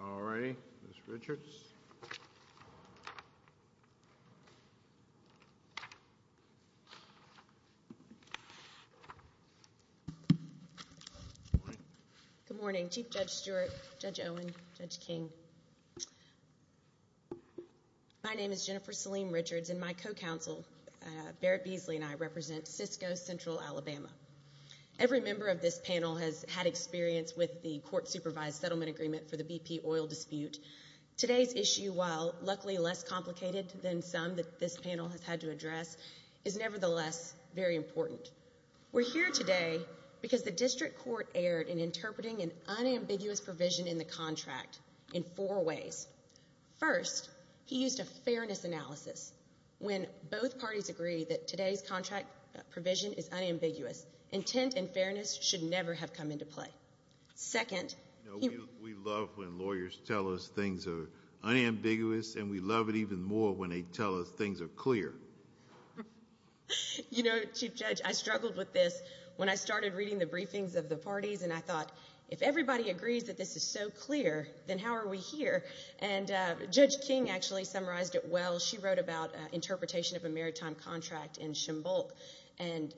All right, Ms. Richards. Good morning, Chief Judge Stewart, Judge Owen, Judge King. My name is Jennifer Selene Richards, and my co-counsel, Barrett Beasley, and I represent Cisco Central Alabama. Every member of this panel has had experience with the court-supervised settlement agreement for the BP oil dispute. Today's issue, while luckily less complicated than some that this panel has had to address, is nevertheless very important. We're here today because the district court erred in interpreting an unambiguous provision in the contract in four ways. First, he used a fairness analysis. When both parties agree that today's contract is unambiguous, intent and fairness should never have come into play. Second, we love when lawyers tell us things are unambiguous, and we love it even more when they tell us things are clear. You know, Chief Judge, I struggled with this when I started reading the briefings of the parties, and I thought, if everybody agrees that this is so clear, then how are we here? And Judge King actually summarized it well. She wrote about interpretation of a maritime contract in Chambulk, and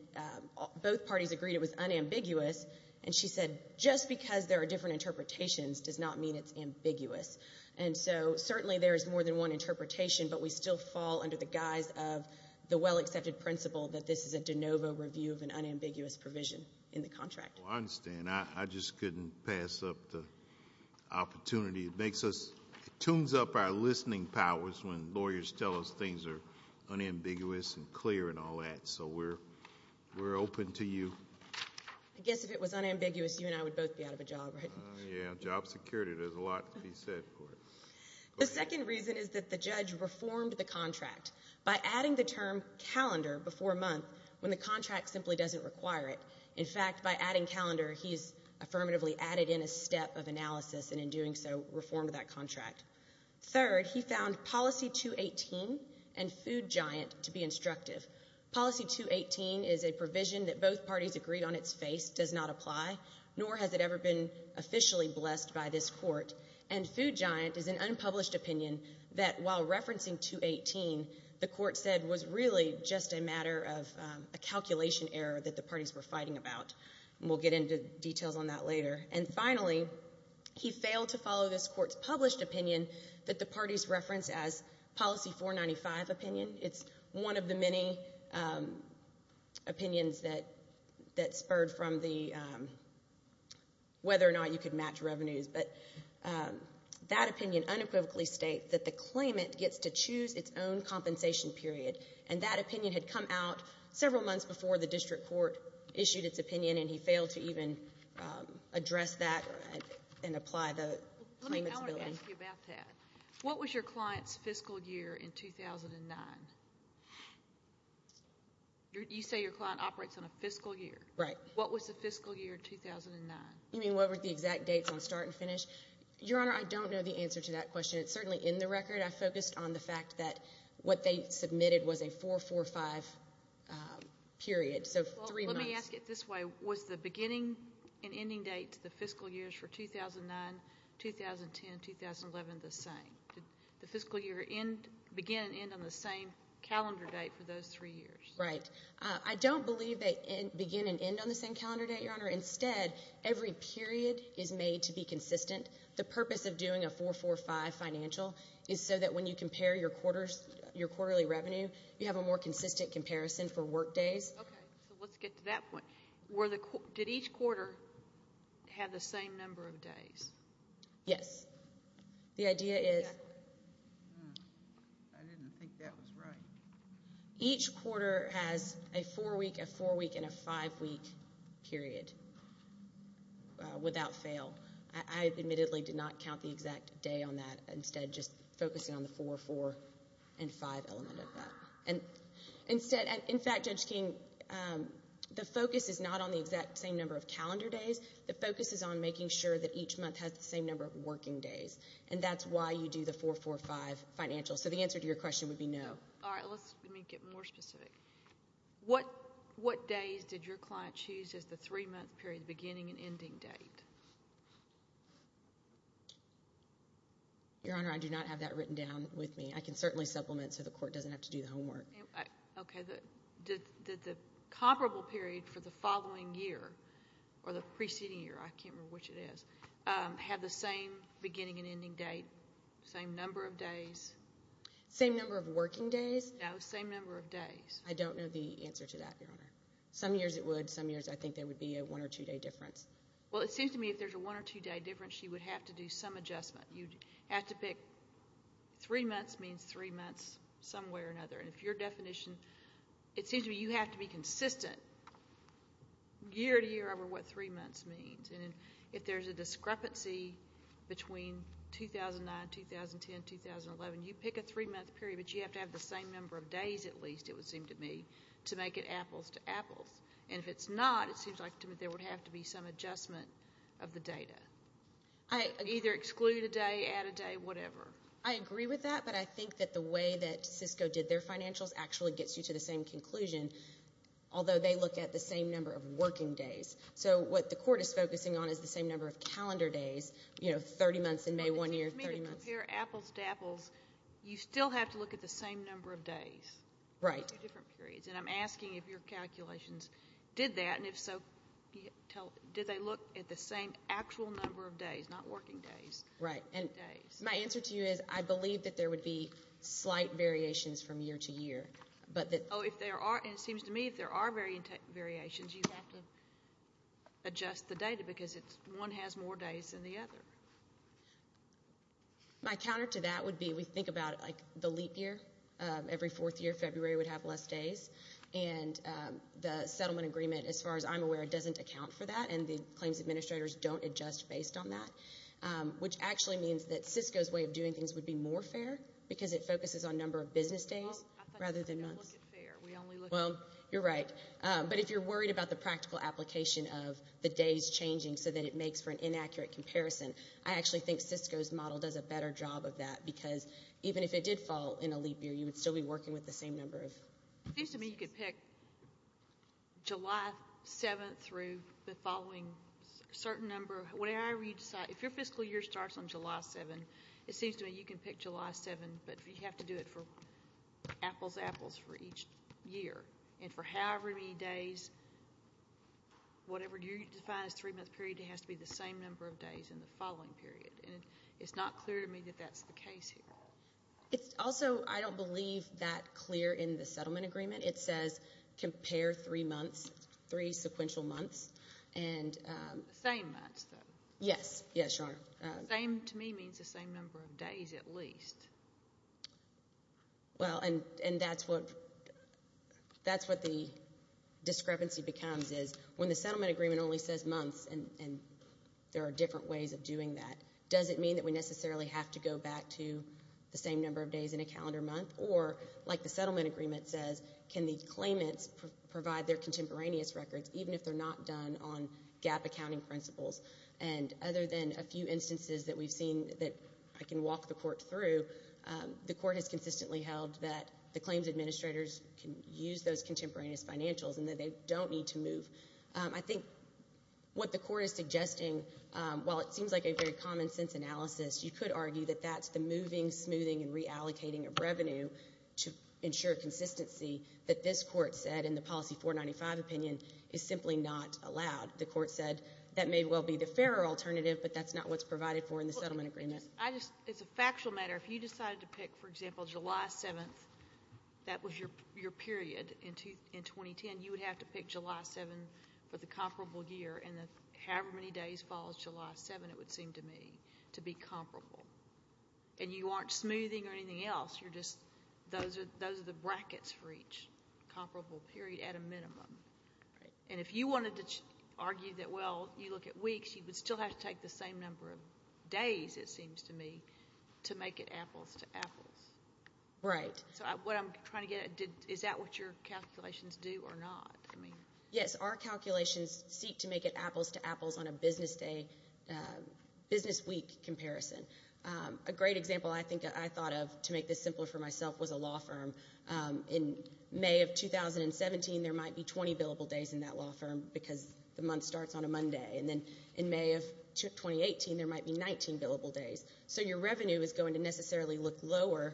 both parties agreed it was unambiguous, and she said, just because there are different interpretations does not mean it's ambiguous. And so certainly there is more than one interpretation, but we still fall under the guise of the well-accepted principle that this is a de novo review of an unambiguous provision in the contract. Well, I understand. I just couldn't pass up the opportunity. It makes us, it tunes up our listening powers when lawyers tell us things are unambiguous and clear and all that, so we're open to you. I guess if it was unambiguous, you and I would both be out of a job, right? Yeah, job security, there's a lot to be said for it. The second reason is that the judge reformed the contract by adding the term calendar before month, when the contract simply doesn't require it. In fact, by adding calendar, he's affirmatively added in a step of analysis and in doing so, reformed that contract. Third, he found policy 218 and Food Giant to be instructive. Policy 218 is a provision that both parties agreed on its face does not apply, nor has it ever been officially blessed by this court, and Food Giant is an unpublished opinion that while referencing 218, the court said was really just a matter of a calculation error that the parties were He failed to follow this court's published opinion that the parties referenced as policy 495 opinion. It's one of the many opinions that spurred from the whether or not you could match revenues, but that opinion unequivocally states that the claimant gets to choose its own compensation period, and that opinion had come out several months before the district court issued its opinion, and he failed to even address that and apply the claimant's ability. Let me ask you about that. What was your client's fiscal year in 2009? You say your client operates on a fiscal year. Right. What was the fiscal year 2009? You mean what were the exact dates on start and finish? Your Honor, I don't know the answer to that question. It's certainly in the record. I focused on the fact that what they submitted was a 445 period, so three months. Let me ask it this way. Was the beginning and ending date to the fiscal years for 2009, 2010, 2011 the same? Did the fiscal year begin and end on the same calendar date for those three years? Right. I don't believe they begin and end on the same calendar date, Your Honor. Instead, every period is made to be consistent. The purpose of doing a 445 financial is so that when you compare your quarterly revenue, you have a more consistent comparison for work days. Okay. So let's get to that point. Did each quarter have the same number of days? Yes. The idea is each quarter has a four-week, a four-week, and a five-week period without fail. I admittedly did not count the exact day on that. Instead, just focusing on the 4, 4, and 5 element of that. Instead, in fact, Judge King, the focus is not on the exact same number of calendar days. The focus is on making sure that each month has the same number of working days, and that's why you do the 445 financial. So the answer to your question would be no. All right. Let me get more specific. What days did your client choose as the three-month period, beginning and ending date? Your Honor, I do not have that written down with me. I can certainly supplement so the court doesn't have to do the homework. Okay. Did the comparable period for the following year, or the preceding year, I can't remember which it is, have the same beginning and ending date, same number of days? Same number of working days? No, same number of days. I don't know the answer to that, Your Honor. Some years it would. Some years I think there would be a one- or two-day difference. Well, it seems to me if there's a one- or two-day difference, you would have to do some adjustment. You'd have to pick three months means three months some way or another. And if your definition, it seems to me you have to be consistent year to year over what three months means. And if there's a discrepancy between 2009, 2010, 2011, you pick a three-month period, but you have to have the same number of days at least, it would seem to me, to make it apples to apples. And if it's not, it seems to me there would have to be some adjustment of the data. Either exclude a day, add a day, whatever. I agree with that, but I think that the way that Cisco did their financials actually gets you to the same conclusion, although they look at the same number of working days. So what the court is focusing on is the same number of calendar days, you know, 30 months in May, one year, 30 months. Well, it seems to me to compare apples to apples, you still have to look at the same number of days. Right. And I'm asking if your calculations did that, and if so, did they look at the same actual number of days, not working days? Right. And my answer to you is I believe that there would be slight variations from year to year. Oh, and it seems to me if there are variations, you have to adjust the data because one has more days than the other. My counter to that would be we think about it like the leap year. Every fourth year, February would have less days, and the settlement agreement, as far as I'm aware, doesn't account for that, and the claims administrators don't adjust based on that, which actually means that Cisco's way of doing things would be more fair because it focuses on number of business days rather than months. Well, I think we only look at fair. We only look at fair. Well, you're right. But if you're worried about the practical application of the days changing so that it makes for an inaccurate comparison, I actually think Cisco's model does a better job of that because even if it did fall in a leap year, you would still be working with the same number of business days. It seems to me you could pick July 7th through the following certain number of whatever you decide. If your fiscal year starts on July 7th, it seems to me you can pick July 7th, but you have to do it for apples to apples for each year. And for however many days, whatever you define as three-month period, it has to be the same number of days in the following period. And it's not clear to me that that's the case here. It's also, I don't believe, that clear in the settlement agreement. It says compare three months, three sequential months. Same months, though. Yes. Yes, Sharon. Same to me means the same number of days at least. Well, and that's what the discrepancy becomes is when the settlement agreement only says months, and there are different ways of doing that, does it mean that we necessarily have to go back to the same number of days in a calendar month? Or, like the settlement agreement says, can the claimants provide their contemporaneous records even if they're not done on GAAP accounting principles? And other than a few instances that we've seen that I can walk the court through, the court has consistently held that the claims administrators can use those contemporaneous financials and that they don't need to move. I think what the court is suggesting, while it seems like a very common-sense analysis, you could argue that that's the moving, smoothing, and reallocating of revenue to ensure consistency that this court said in the policy 495 opinion is simply not allowed. The court said that may well be the fairer alternative, but that's not what's provided for in the settlement agreement. It's a factual matter. If you decided to pick, for example, July 7th, that was your period in 2010, you would have to pick July 7th for the comparable year, and however many days follows July 7th, it would seem to me, to be comparable. And you aren't smoothing or anything else, you're just, those are the brackets for each comparable period at a minimum. And if you wanted to argue that, well, you look at weeks, you would still have to take the same number of days, it seems to me, to make it apples to apples. Right. So what I'm trying to get at, is that what your calculations do or not? Yes, our calculations seek to make it apples to apples on a business day, business week comparison. A great example I think I thought of to make this simpler for myself was a law firm. In May of 2017, there might be 20 billable days in that law firm, because the month starts on a Monday. And then in May of 2018, there might be 19 billable days. So your revenue is going to necessarily look lower,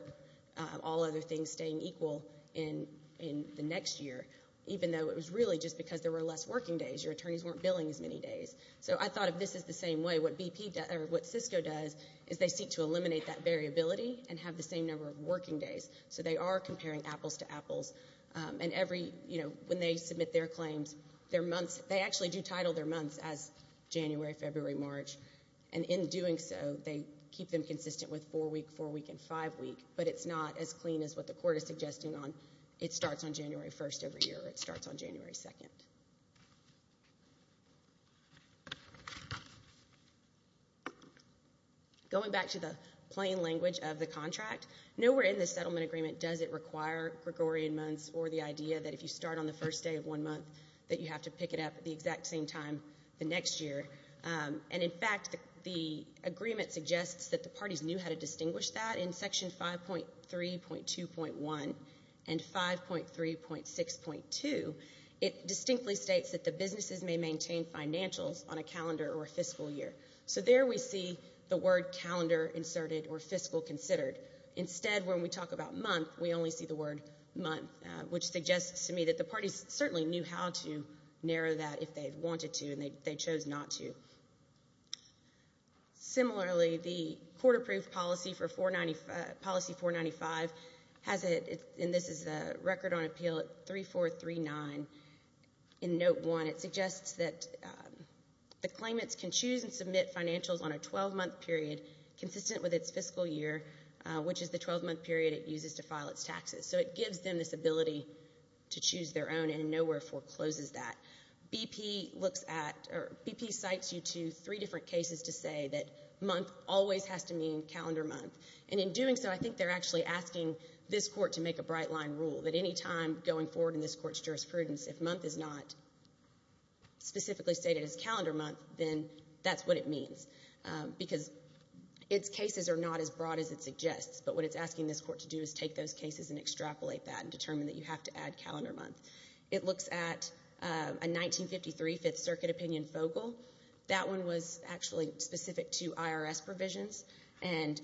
all other things staying equal in the next year, even though it was really just because there were less working days. Your attorneys weren't billing as many days. So I thought if this is the same way, what Cisco does is they seek to eliminate that variability and have the same number of working days. So they are comparing apples to apples. And every, you know, when they submit their claims, their months, they actually do title their months as January, February, March. And in doing so, they keep them consistent with four week, four week, and five week. But it's not as clean as what the court is suggesting on it starts on January 1st every year or it starts on January 2nd. Going back to the plain language of the contract, nowhere in the settlement agreement does it require Gregorian months or the idea that if you start on the first day of one month that you have to pick it up at the exact same time the next year. And in fact, the agreement suggests that the parties knew how to distinguish that in Section 5.3.2.1 and 5.3.6.2. It distinctly states that the businesses may maintain financials on a calendar or fiscal year. So there we see the word calendar inserted or fiscal considered. Instead, when we talk about month, we only see the word month, which suggests to me that the parties certainly knew how to narrow that if they wanted to and they chose not to. Similarly, the court-approved policy for 495, policy 495, has it, and this is the record on appeal at 3439 in Note 1. It suggests that the claimants can choose and submit financials on a 12-month period consistent with its fiscal year, which is the 12-month period it uses to file its taxes. So it gives them this ability to choose their own and nowhere forecloses that. BP looks at or BP cites you to three different cases to say that month always has to mean calendar month. And in doing so, I think they're actually asking this court to make a bright-line rule that any time going forward in this court's jurisprudence, if month is not specifically stated as calendar month, then that's what it means, because its cases are not as broad as it suggests. But what it's asking this court to do is take those cases and extrapolate that and determine that you have to add calendar month. It looks at a 1953 Fifth Circuit opinion FOGL. That one was actually specific to IRS provisions, and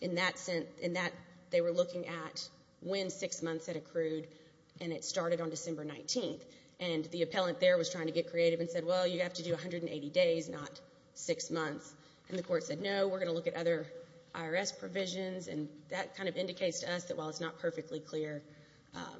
in that they were looking at when six months had accrued, and it started on December 19th. And the appellant there was trying to get creative and said, well, you have to do 180 days, not six months. And the court said, no, we're going to look at other IRS provisions, and that kind of indicates to us that while it's not perfectly clear,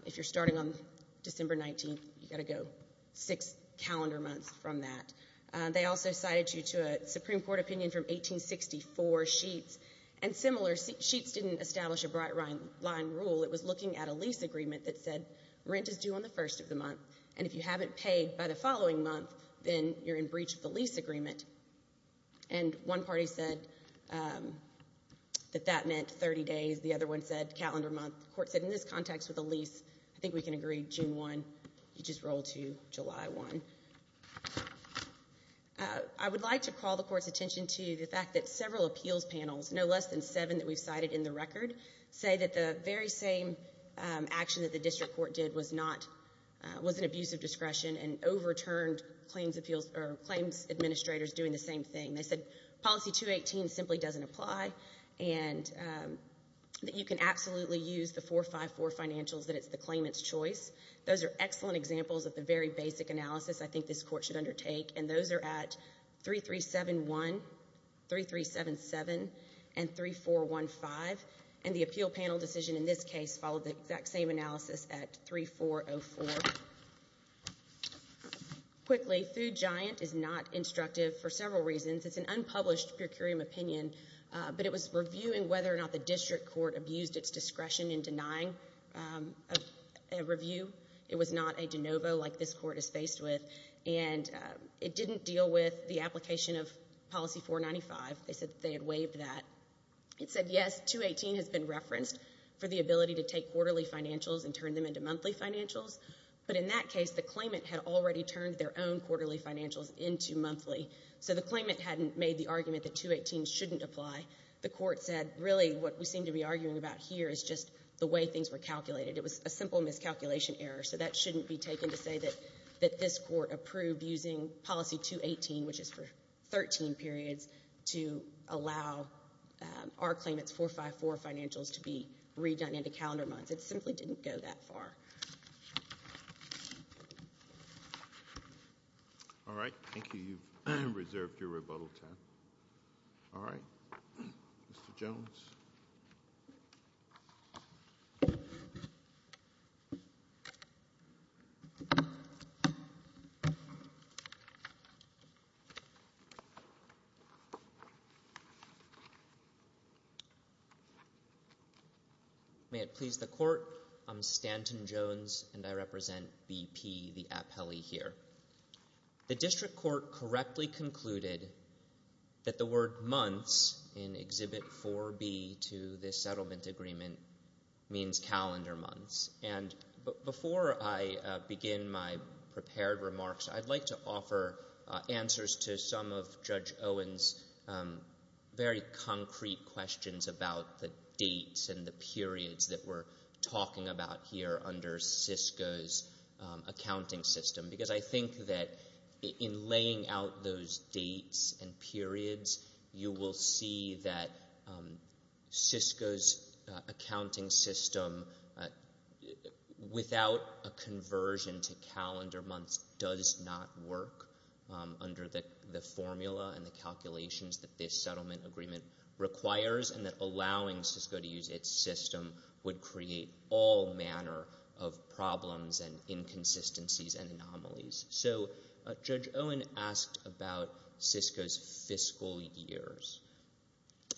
if you're starting on December 19th, you've got to go six calendar months from that. They also cited you to a Supreme Court opinion from 1864, Sheets. And similar, Sheets didn't establish a bright-line rule. It was looking at a lease agreement that said rent is due on the first of the month, and if you haven't paid by the following month, then you're in breach of the lease agreement. And one party said that that meant 30 days. The other one said calendar month. The court said in this context with a lease, I think we can agree June 1. You just roll to July 1. I would like to call the court's attention to the fact that several appeals panels, no less than seven that we've cited in the record, say that the very same action that the district court did was an abuse of discretion and overturned claims administrators doing the same thing. They said policy 218 simply doesn't apply and that you can absolutely use the 454 financials that it's the claimant's choice. Those are excellent examples of the very basic analysis I think this court should undertake, and those are at 3371, 3377, and 3415. And the appeal panel decision in this case followed the exact same analysis at 3404. Quickly, Food Giant is not instructive for several reasons. It's an unpublished per curiam opinion, but it was reviewing whether or not the district court abused its discretion in denying a review. It was not a de novo like this court is faced with, and it didn't deal with the application of policy 495. They said that they had waived that. It said yes, 218 has been referenced for the ability to take quarterly financials and turn them into In that case, the claimant had already turned their own quarterly financials into monthly, so the claimant hadn't made the argument that 218 shouldn't apply. The court said, really, what we seem to be arguing about here is just the way things were calculated. It was a simple miscalculation error, so that shouldn't be taken to say that this court approved using policy 218, which is for 13 periods, to allow our claimant's 454 financials to be redone into calendar months. It simply didn't go that far. All right. Thank you. You've reserved your rebuttal time. All right. Mr. Jones. May it please the court, I'm Stanton Jones, and I represent BP, the appellee here. The settlement agreement means calendar months, and before I begin my prepared remarks, I'd like to offer answers to some of Judge Owen's very concrete questions about the dates and the periods that we're talking about here under Cisco's accounting system, because I will see that Cisco's accounting system, without a conversion to calendar months, does not work under the formula and the calculations that this settlement agreement requires, and that allowing Cisco to use its system would create all manner of problems and inconsistencies and anomalies. So Judge Owen asked about Cisco's fiscal years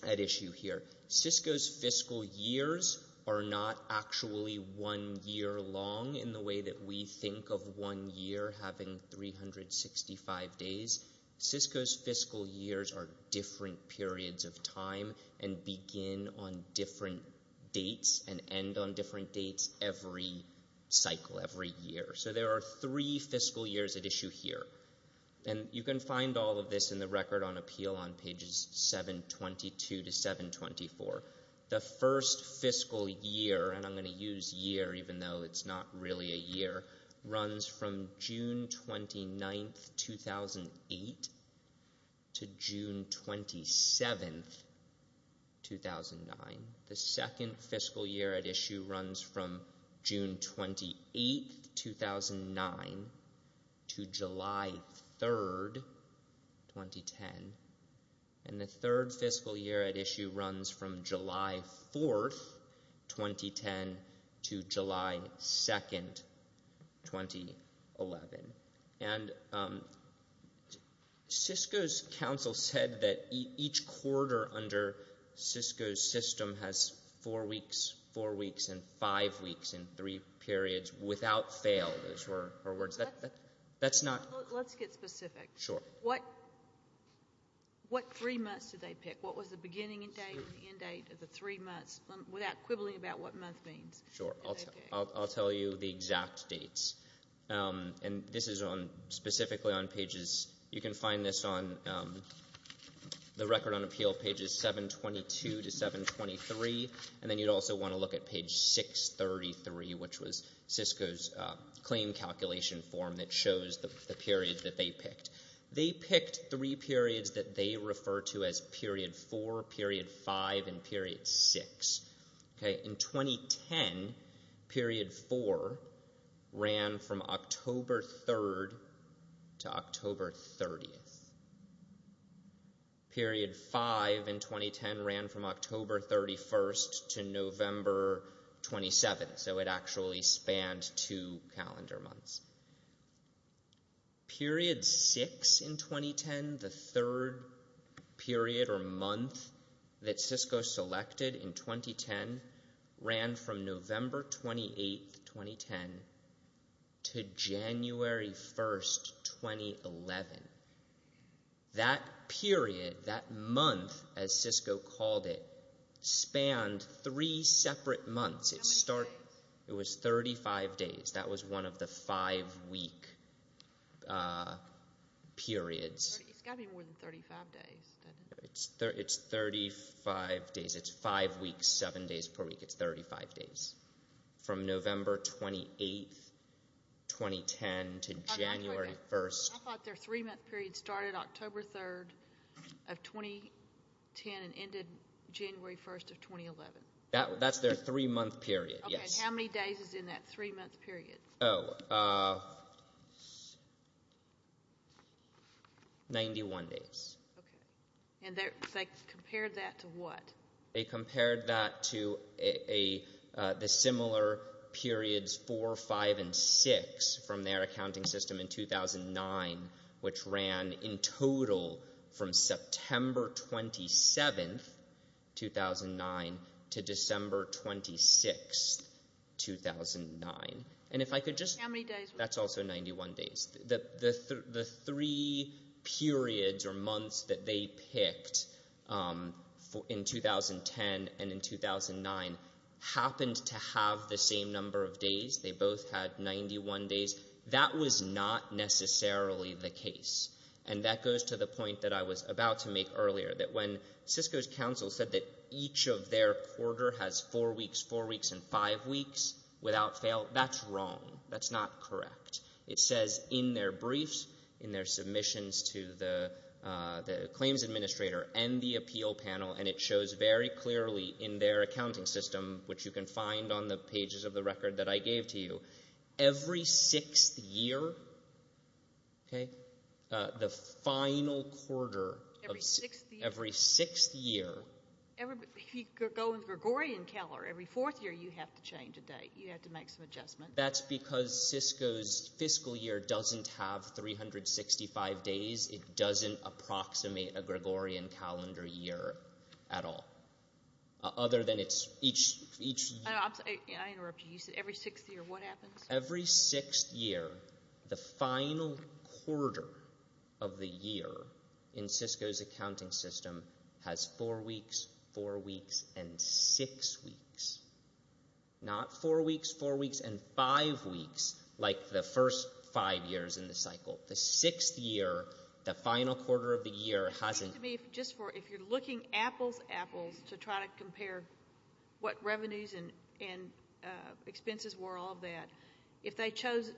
at issue here. Cisco's fiscal years are not actually one year long in the way that we think of one year having 365 days. Cisco's fiscal years are different periods of time and begin on different dates and end on different dates every cycle, every year. So there are three fiscal years at issue here, and you can find all of this in the record on appeal on pages 722 to 724. The first fiscal year, and I'm going to use year even though it's not really a year, runs from June 28th, 2009 to July 3rd, 2010. And the third fiscal year at issue runs from July 4th, 2010 to July 2nd, 2011. And Cisco's counsel said that each quarter under Cisco's system has four weeks, four weeks, and five weeks, and three periods without fail, those were her words. That's not... Let's get specific. Sure. What three months did they pick? What was the beginning date and the end date of the three months without quibbling about what month means? Sure. I'll tell you the exact dates. And this is on, specifically on pages, you can find this on the record on appeal pages 722 to 723, and then you'd also want to look at page 633, which was Cisco's claim calculation form that shows the period that they picked. They picked three periods that they refer to as period four, period five, and period six. In 2010, period four ran from October 3rd to October 30th. Period five in 2010 ran from October 31st to November 27th, so it actually spanned two calendar months. Period six in 2010 ran from November 28th, 2010 to January 1st, 2011. That period, that month, as Cisco called it, spanned three separate months. How many days? It was 35 days. That was one of the five-week periods. It's got to be more than 35 days, doesn't it? It's 35 days. It's five weeks, seven days per week. It's 35 days. From November 28th, 2010 to January 1st. I thought their three-month period started October 3rd of 2010 and ended January 1st of 2011. That's their three-month period, yes. Okay, and how many days is in that three-month period? Oh, 91 days. Okay, and they compared that to what? They compared that to the similar periods four, five, and six from their accounting system in 2009, which ran in total from September 27th, 2009, to December 26th, 2009. And if I could just... How many days? That's also 91 days. The three periods or months that they picked in 2010 and in 2009 happened to have the same number of days. They both had 91 days. That was not necessarily the case, and that goes to the point that I was about to make earlier, that when Cisco's counsel said that each of their quarter has four weeks, four weeks, and five weeks without fail, that's wrong. That's not correct. It says in their briefs, in their submissions to the claims administrator and the appeal panel, and it shows very clearly in their accounting system, which you can find on the pages of the record that I gave to you, every sixth year, okay, the final quarter of every sixth year... You have to make some adjustments. That's because Cisco's fiscal year doesn't have 365 days. It doesn't approximate a Gregorian calendar year at all, other than it's each... I interrupt you. You said every sixth year. What happens? Every sixth year, the final quarter of the year in Cisco's accounting system has four weeks, four weeks, and six weeks, not four weeks, four weeks, and five weeks like the first five years in the cycle. The sixth year, the final quarter of the year hasn't... If you're looking apples to apples to try to compare what revenues and expenses were, all of that, if they chose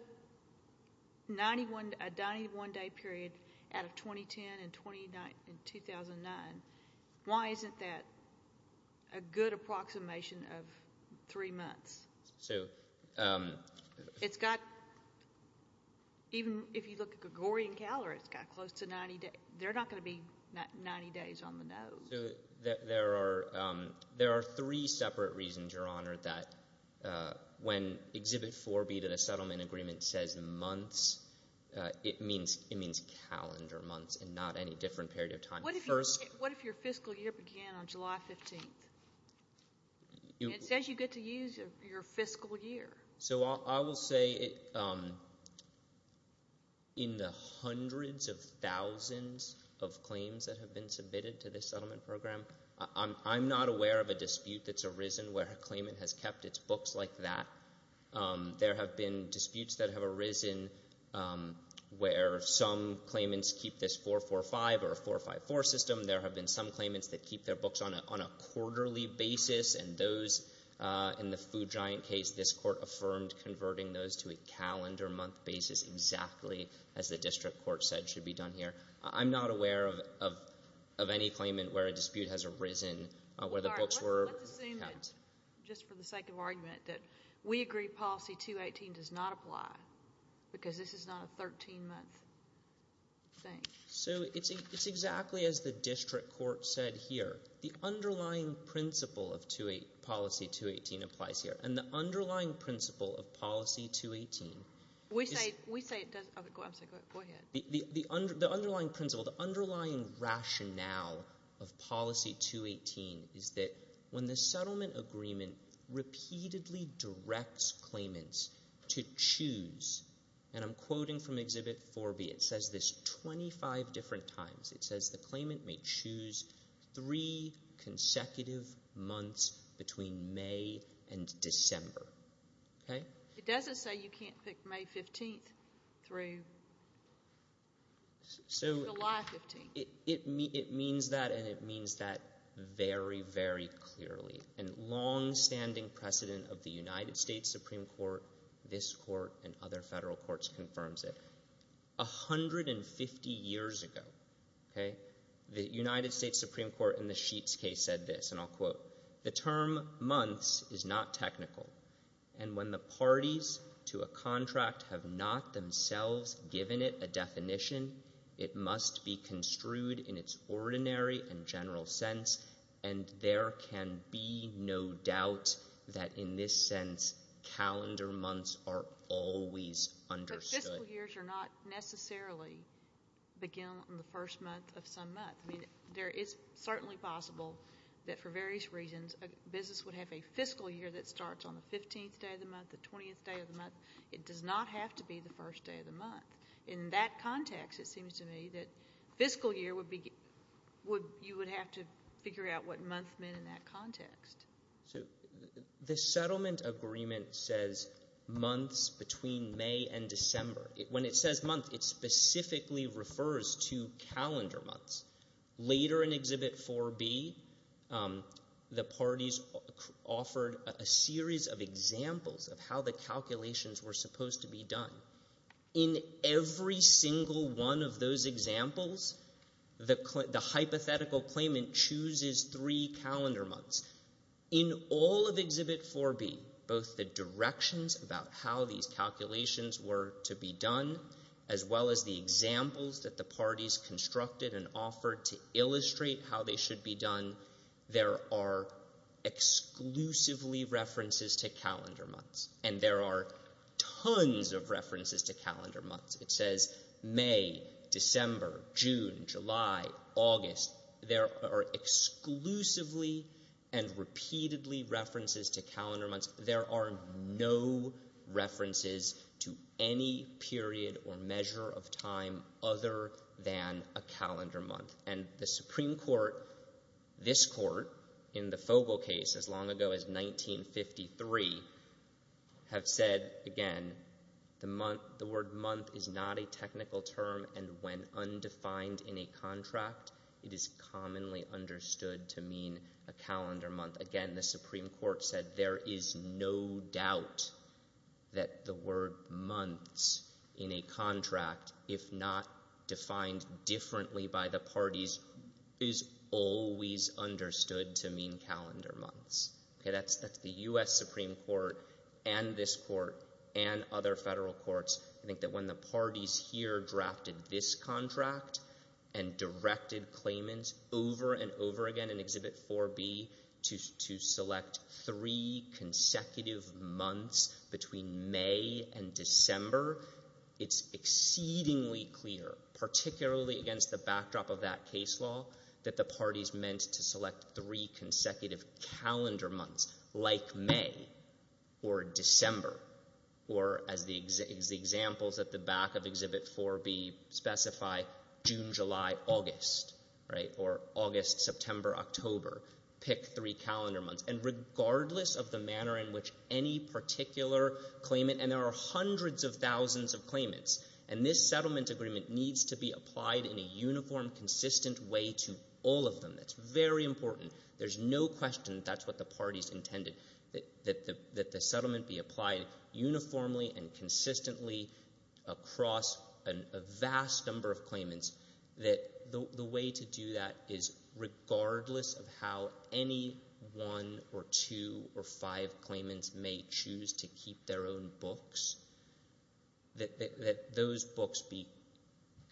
a 91-day period out of 2010 and 2009, why isn't that a good approximation of three months? So... It's got... Even if you look at Gregorian calendar, it's got close to 90 days. They're not going to be 90 days on the nose. There are three separate reasons, Your Honor, that when Exhibit 4B to the settlement agreement says months, it means calendar months and not any different period of time. What if your fiscal year began on July 15th? It says you get to use your fiscal year. So I will say in the hundreds of thousands of claims that have been submitted to this settlement program, I'm not aware of a dispute that's arisen where a claimant has kept its books like that. There have been disputes that have arisen where some claimants keep this 445 or 454 system. There have been some claimants that keep their books on a quarterly basis, and those in the Food Giant case, this court affirmed converting those to a calendar month basis, exactly as the district court said should be done here. I'm not aware of any claimant where a dispute has arisen where the books were kept. All right, let's assume that, just for the sake of argument, that we agree policy 218 does not apply, because this is not a 13-month thing. So it's exactly as the district court said here. The underlying principle of policy 218 applies here. And the underlying principle of policy 218 is that when the settlement agreement repeatedly directs claimants to choose, and I'm quoting from Exhibit 4B, it says this 25 different times. It says the claimant may choose three consecutive months between May and December. Okay? It doesn't say you can't pick May 15th through July 15th. It means that, and it means that very, very clearly. And longstanding precedent of the United States Supreme Court, this court, and other federal courts confirms it. 150 years ago, okay, the United States Supreme Court in the Sheets case said this, and I'll quote, the term months is not technical. And when the parties to a contract have not themselves given it a definition, it must be construed in its ordinary and general sense, and there can be no doubt that in this sense calendar months are always understood. But fiscal years do not necessarily begin on the first month of some month. I mean, it's certainly possible that for various reasons a business would have a fiscal year that starts on the 15th day of the month, the 20th day of the month. It does not have to be the first day of the month. In that context, it seems to me that fiscal year would be, you would have to figure out what month meant in that context. So the settlement agreement says months between May and December. When it says month, it specifically refers to calendar months. Later in Exhibit 4B, the parties offered a series of examples of how the calculations were supposed to be done. In every single one of those examples, the hypothetical claimant chooses three calendar months. In all of Exhibit 4B, both the directions about how these calculations were to be done, as well as the examples that the parties constructed and offered to illustrate how they should be done, there are exclusively references to calendar months. And there are tons of references to calendar months. It says May, December, June, July, August. There are exclusively and repeatedly references to calendar months. There are no references to any period or measure of time other than a calendar month. And the Supreme Court, this Court, in the Fogel case as long ago as 1953, have said, again, the word month is not a technical term, and when undefined in a contract, it is commonly understood to mean a calendar month. Again, the Supreme Court said there is no doubt that the word months in a contract, if not defined differently by the parties, is always understood to mean calendar months. That's the U.S. Supreme Court and this Court and other federal courts. I think that when the parties here drafted this contract and directed claimants over and over again in Exhibit 4B to select three consecutive months between May and December, it's exceedingly clear, particularly against the backdrop of that case law, that the parties meant to select three consecutive calendar months like May or December or, as the examples at the back of Exhibit 4B specify, June, July, August, right, or August, September, October, pick three calendar months. And regardless of the manner in which any particular claimant, and there are hundreds of thousands of claimants, and this settlement agreement needs to be applied in a uniform, consistent way to all of them. That's very important. There's no question that's what the parties intended, that the settlement be applied uniformly and consistently across a vast number of claimants, that the way to do that is regardless of how any one or two or five claimants may choose to keep their own books, that those books be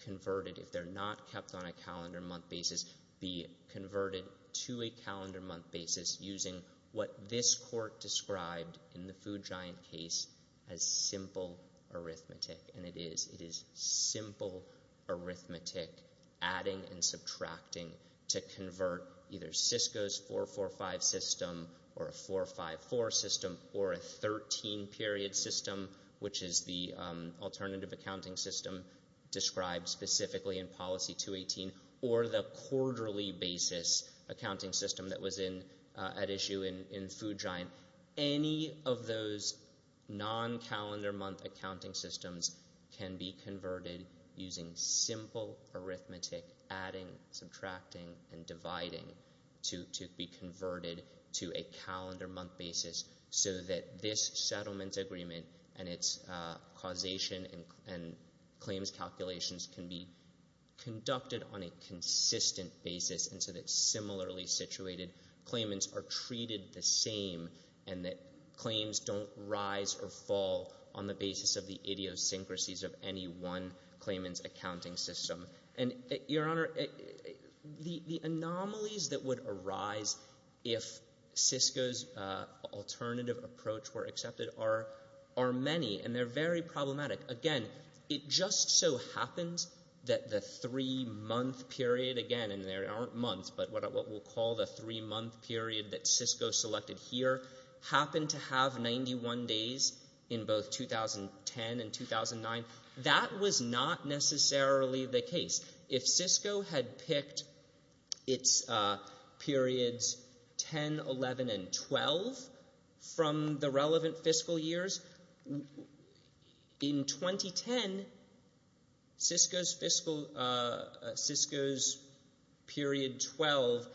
converted. If they're not kept on a calendar month basis, be converted to a calendar month basis using what this court described in the Food Giant case as simple arithmetic. And it is. It is simple arithmetic adding and subtracting to convert either Cisco's 445 system or a 454 system or a 13-period system, which is the alternative accounting system described specifically in Policy 218, or the quarterly basis accounting system that was at issue in Food Giant. Any of those non-calendar month accounting systems can be converted using simple arithmetic adding, subtracting, and dividing to be converted to a calendar month basis so that this settlement agreement and its causation and claims calculations can be conducted on a consistent basis and so that similarly situated claimants are treated the same and that claims don't rise or fall on the basis of the idiosyncrasies of any one claimant's accounting system. And, Your Honor, the anomalies that would arise if Cisco's alternative approach were accepted are many, and they're very problematic. Again, it just so happens that the three-month period, again, there aren't months, but what we'll call the three-month period that Cisco selected here happened to have 91 days in both 2010 and 2009. That was not necessarily the case. If Cisco had picked its periods 10, 11, and 12 from the relevant fiscal years, in 2010, Cisco's period 12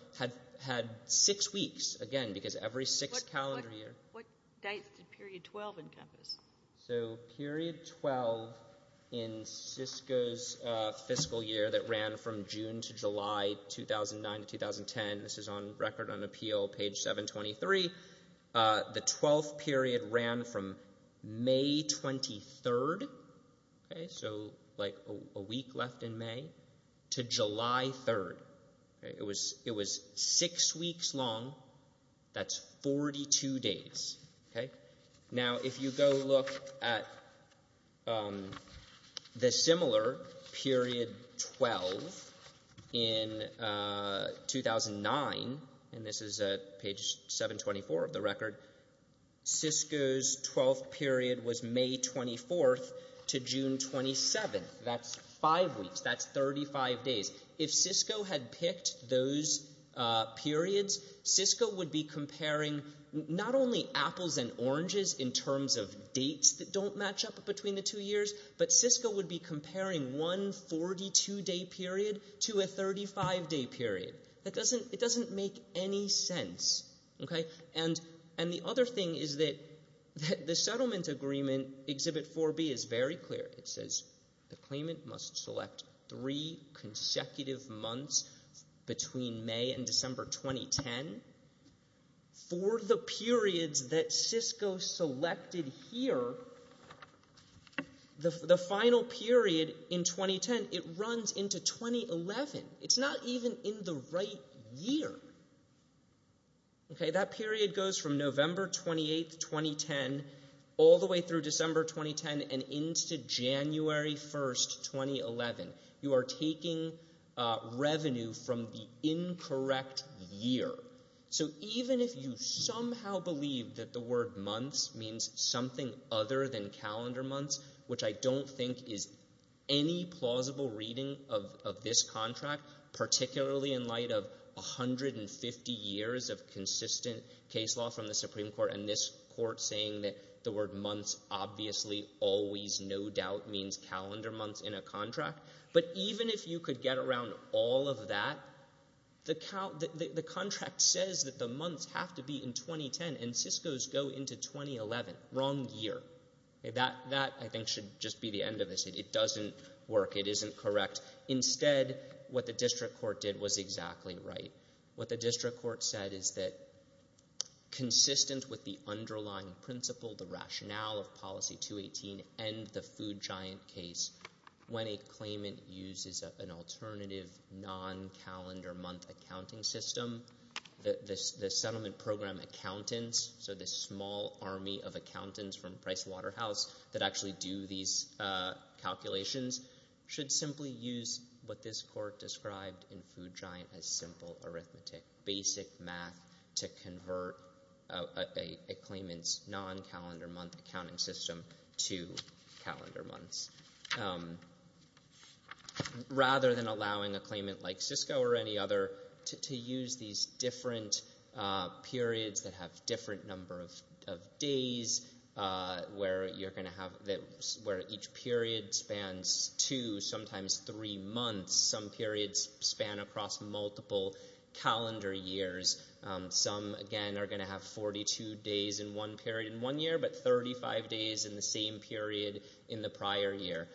had six weeks, again, because every six-calendar year... What dates did period 12 encompass? So period 12 in Cisco's fiscal year that ran from June to July 2009 to 2010, this is on Record on Appeal, page 723, the 12th period ran from May 23rd, so like a week left in May, to July 3rd. It was six weeks long. That's 42 days. Now, if you go look at the similar period 12 in 2009, and this is at page 724 of the record, Cisco's 12th period was May 24th to June 27th. That's five weeks. That's 35 days. If Cisco had picked those periods, Cisco would be comparing not only apples and oranges in terms of dates that don't match up between the two years, but Cisco would be comparing one 42-day period to a 35-day period. It doesn't make any sense. And the other thing is that the settlement agreement, Exhibit 4B, is very clear. It says the claimant must select three consecutive months between May and December 2010. For the periods that Cisco selected here, the final period in 2010, it runs into 2011. It's not even in the right year. That period goes from November 28th, 2010 all the way through December 2010 and into January 1st, 2011. You are taking revenue from the incorrect year. So even if you somehow believe that the word months means something other than calendar months, which I don't think is any plausible reading of this contract, particularly in light of 150 years of consistent case law from the Supreme Court and this court saying that the word months obviously always, no doubt, means calendar months in a contract. But even if you could get around all of that, the contract says that the months have to be in 2010, and Cisco's go into 2011, wrong year. That, I think, should just be the end of this. It doesn't work. It isn't correct. Instead, what the district court did was exactly right. What the district court said is that consistent with the underlying principle, the rationale of Policy 218 and the Food Giant case, when a claimant uses an alternative non-calendar month accounting system, the settlement program accountants, so this small army of accountants from Price Waterhouse that actually do these calculations, should simply use what this court described in Food Giant as simple arithmetic, basic math to convert a claimant's non-calendar month accounting system to calendar months. Rather than allowing a claimant like Cisco or any other to use these different periods that have different number of days where each period spans two, sometimes three months. Some periods span across multiple calendar years. Some, again, are going to have 42 days in one period in one year, but 35 days in the same period in the prior year.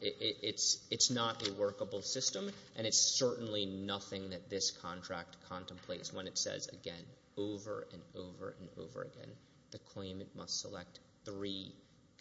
It's not a workable system, and it's certainly nothing that this contract contemplates when it says, again, over and over and over again, the claimant must select three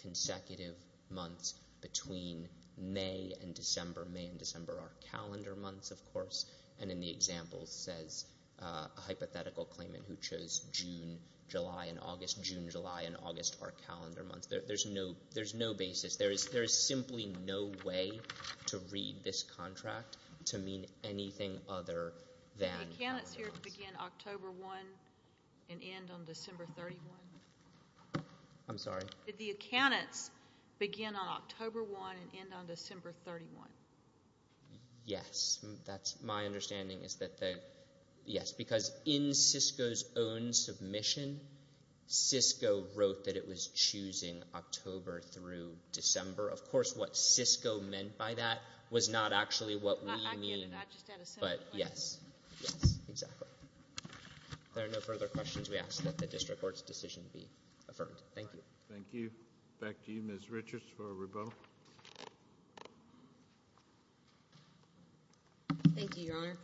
consecutive months between May and December. May and December are calendar months, of course, and in the example says a hypothetical claimant who chose June, July, and August. June, July, and August are calendar months. There's no basis. There is simply no way to read this contract to mean anything other than calendar months. Did the accountants here begin October 1 and end on December 31? I'm sorry? Did the accountants begin on October 1 and end on December 31? Yes. My understanding is that they, yes, because in Cisco's own submission, Cisco wrote that it was choosing October through December. Of course, what Cisco meant by that was not actually what we mean, but yes. Yes, exactly. If there are no further questions, we ask that the district court's decision be affirmed. Thank you. Thank you. Back to you, Ms. Richards, for rebuttal. Thank you, Your Honor.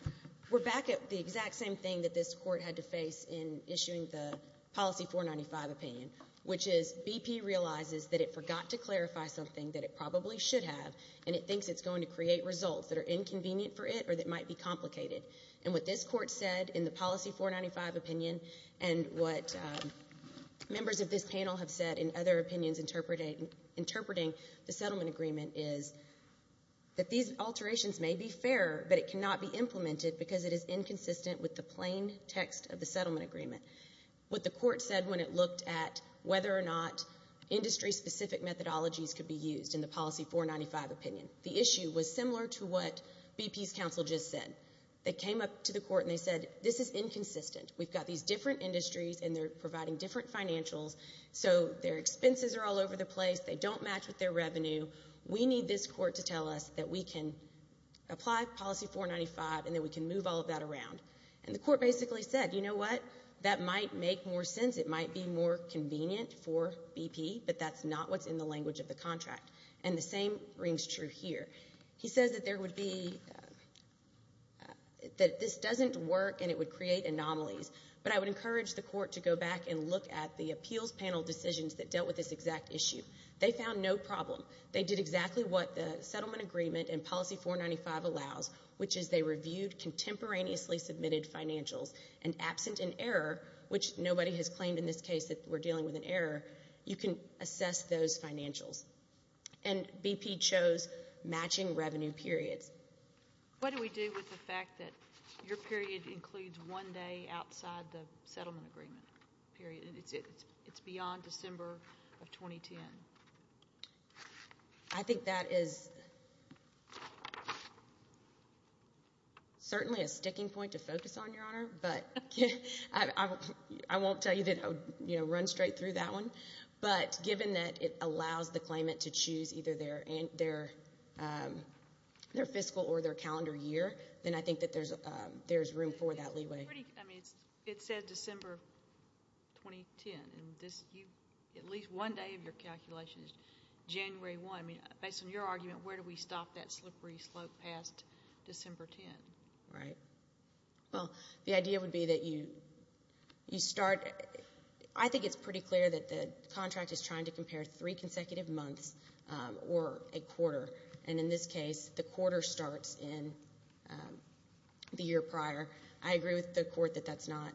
We're back at the exact same thing that this court had to face in issuing the Policy 495 opinion, which is BP realizes that it forgot to clarify something that it probably should have, and it thinks it's going to create results that are inconvenient for it or that might be complicated. And what this court said in the Policy 495 opinion and what members of this panel have said in other opinions interpreting the settlement agreement is that these alterations may be fair, but it cannot be implemented because it is inconsistent with the plain text of the settlement agreement. What the court said when it looked at whether or not industry-specific methodologies could be used in the Policy 495 opinion, the issue was similar to what BP's counsel just said. They came up to the court and they said, this is inconsistent. We've got these different industries, and they're providing different financials, so their expenses are all over the place. They don't match with their revenue. We need this court to tell us that we can apply Policy 495 and that we can move all of that around. And the court basically said, you know what, that might make more sense. It might be more convenient for BP, but that's not what's in the language of the contract. And the same rings true here. He says that this doesn't work and it would create anomalies, but I would encourage the court to go back and look at the appeals panel decisions that dealt with this exact issue. They found no problem. They did exactly what the settlement agreement in Policy 495 allows, which is they reviewed contemporaneously submitted financials. And absent an error, which nobody has claimed in this case that we're dealing with an error, you can assess those financials. And BP chose matching revenue periods. What do we do with the fact that your period includes one day outside the settlement agreement period? It's beyond December of 2010. I think that is certainly a sticking point to focus on, Your Honor, but I won't tell you that I would run straight through that one. But given that it allows the claimant to choose either their fiscal or their calendar year, then I think that there's room for that leeway. I mean, it says December 2010, and at least one day of your calculation is January 1. I mean, based on your argument, where do we stop that slippery slope past December 10? Right. Well, the idea would be that you start. I think it's pretty clear that the contract is trying to compare three consecutive months or a quarter. And in this case, the quarter starts in the year prior. I agree with the court that that's not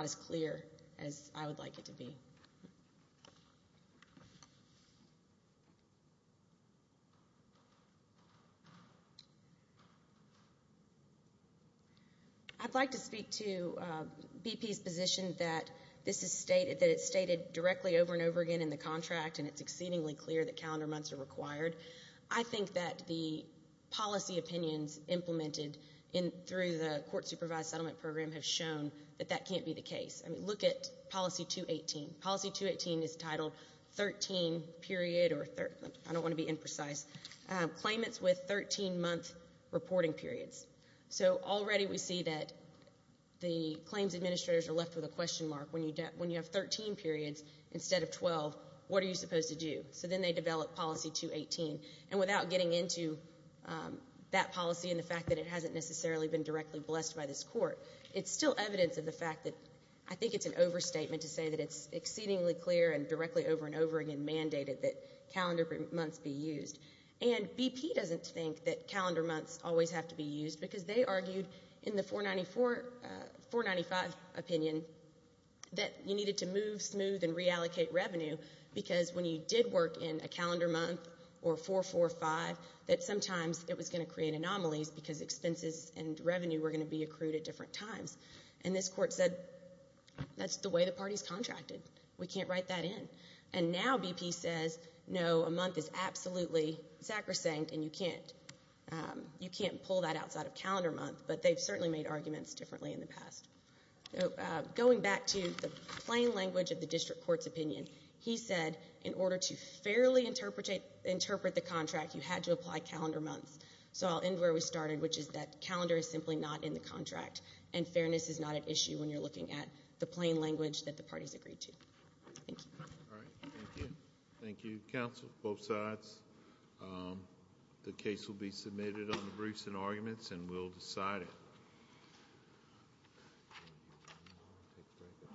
as clear as I would like it to be. I'd like to speak to BP's position that it's stated directly over and over again in the contract, and it's exceedingly clear that calendar months are required. I think that the policy opinions implemented through the court-supervised settlement program have shown that that can't be the case. I mean, look at policy 218. Policy 218 is titled 13 period or 13th. I don't want to be imprecise. Claimants with 13-month reporting periods. So already we see that the claims administrators are left with a question mark. When you have 13 periods instead of 12, what are you supposed to do? So then they develop policy 218. And without getting into that policy and the fact that it hasn't necessarily been directly blessed by this court, it's still evidence of the fact that I think it's an overstatement to say that it's exceedingly clear and directly over and over again mandated that calendar months be used. And BP doesn't think that calendar months always have to be used, because they argued in the 495 opinion that you needed to move, smooth, and reallocate revenue, because when you did work in a calendar month or 445, that sometimes it was going to create anomalies because expenses and revenue were going to be accrued at different times. And this court said, that's the way the party's contracted. We can't write that in. And now BP says, no, a month is absolutely sacrosanct, and you can't. You can't pull that outside of calendar month, but they've certainly made arguments differently in the past. Going back to the plain language of the district court's opinion, he said in order to fairly interpret the contract, you had to apply calendar months. So I'll end where we started, which is that calendar is simply not in the contract, and fairness is not an issue when you're looking at the plain language that the parties agreed to. Thank you. All right, thank you. Thank you, counsel, both sides. The case will be submitted on the briefs and arguments, and we'll decide it.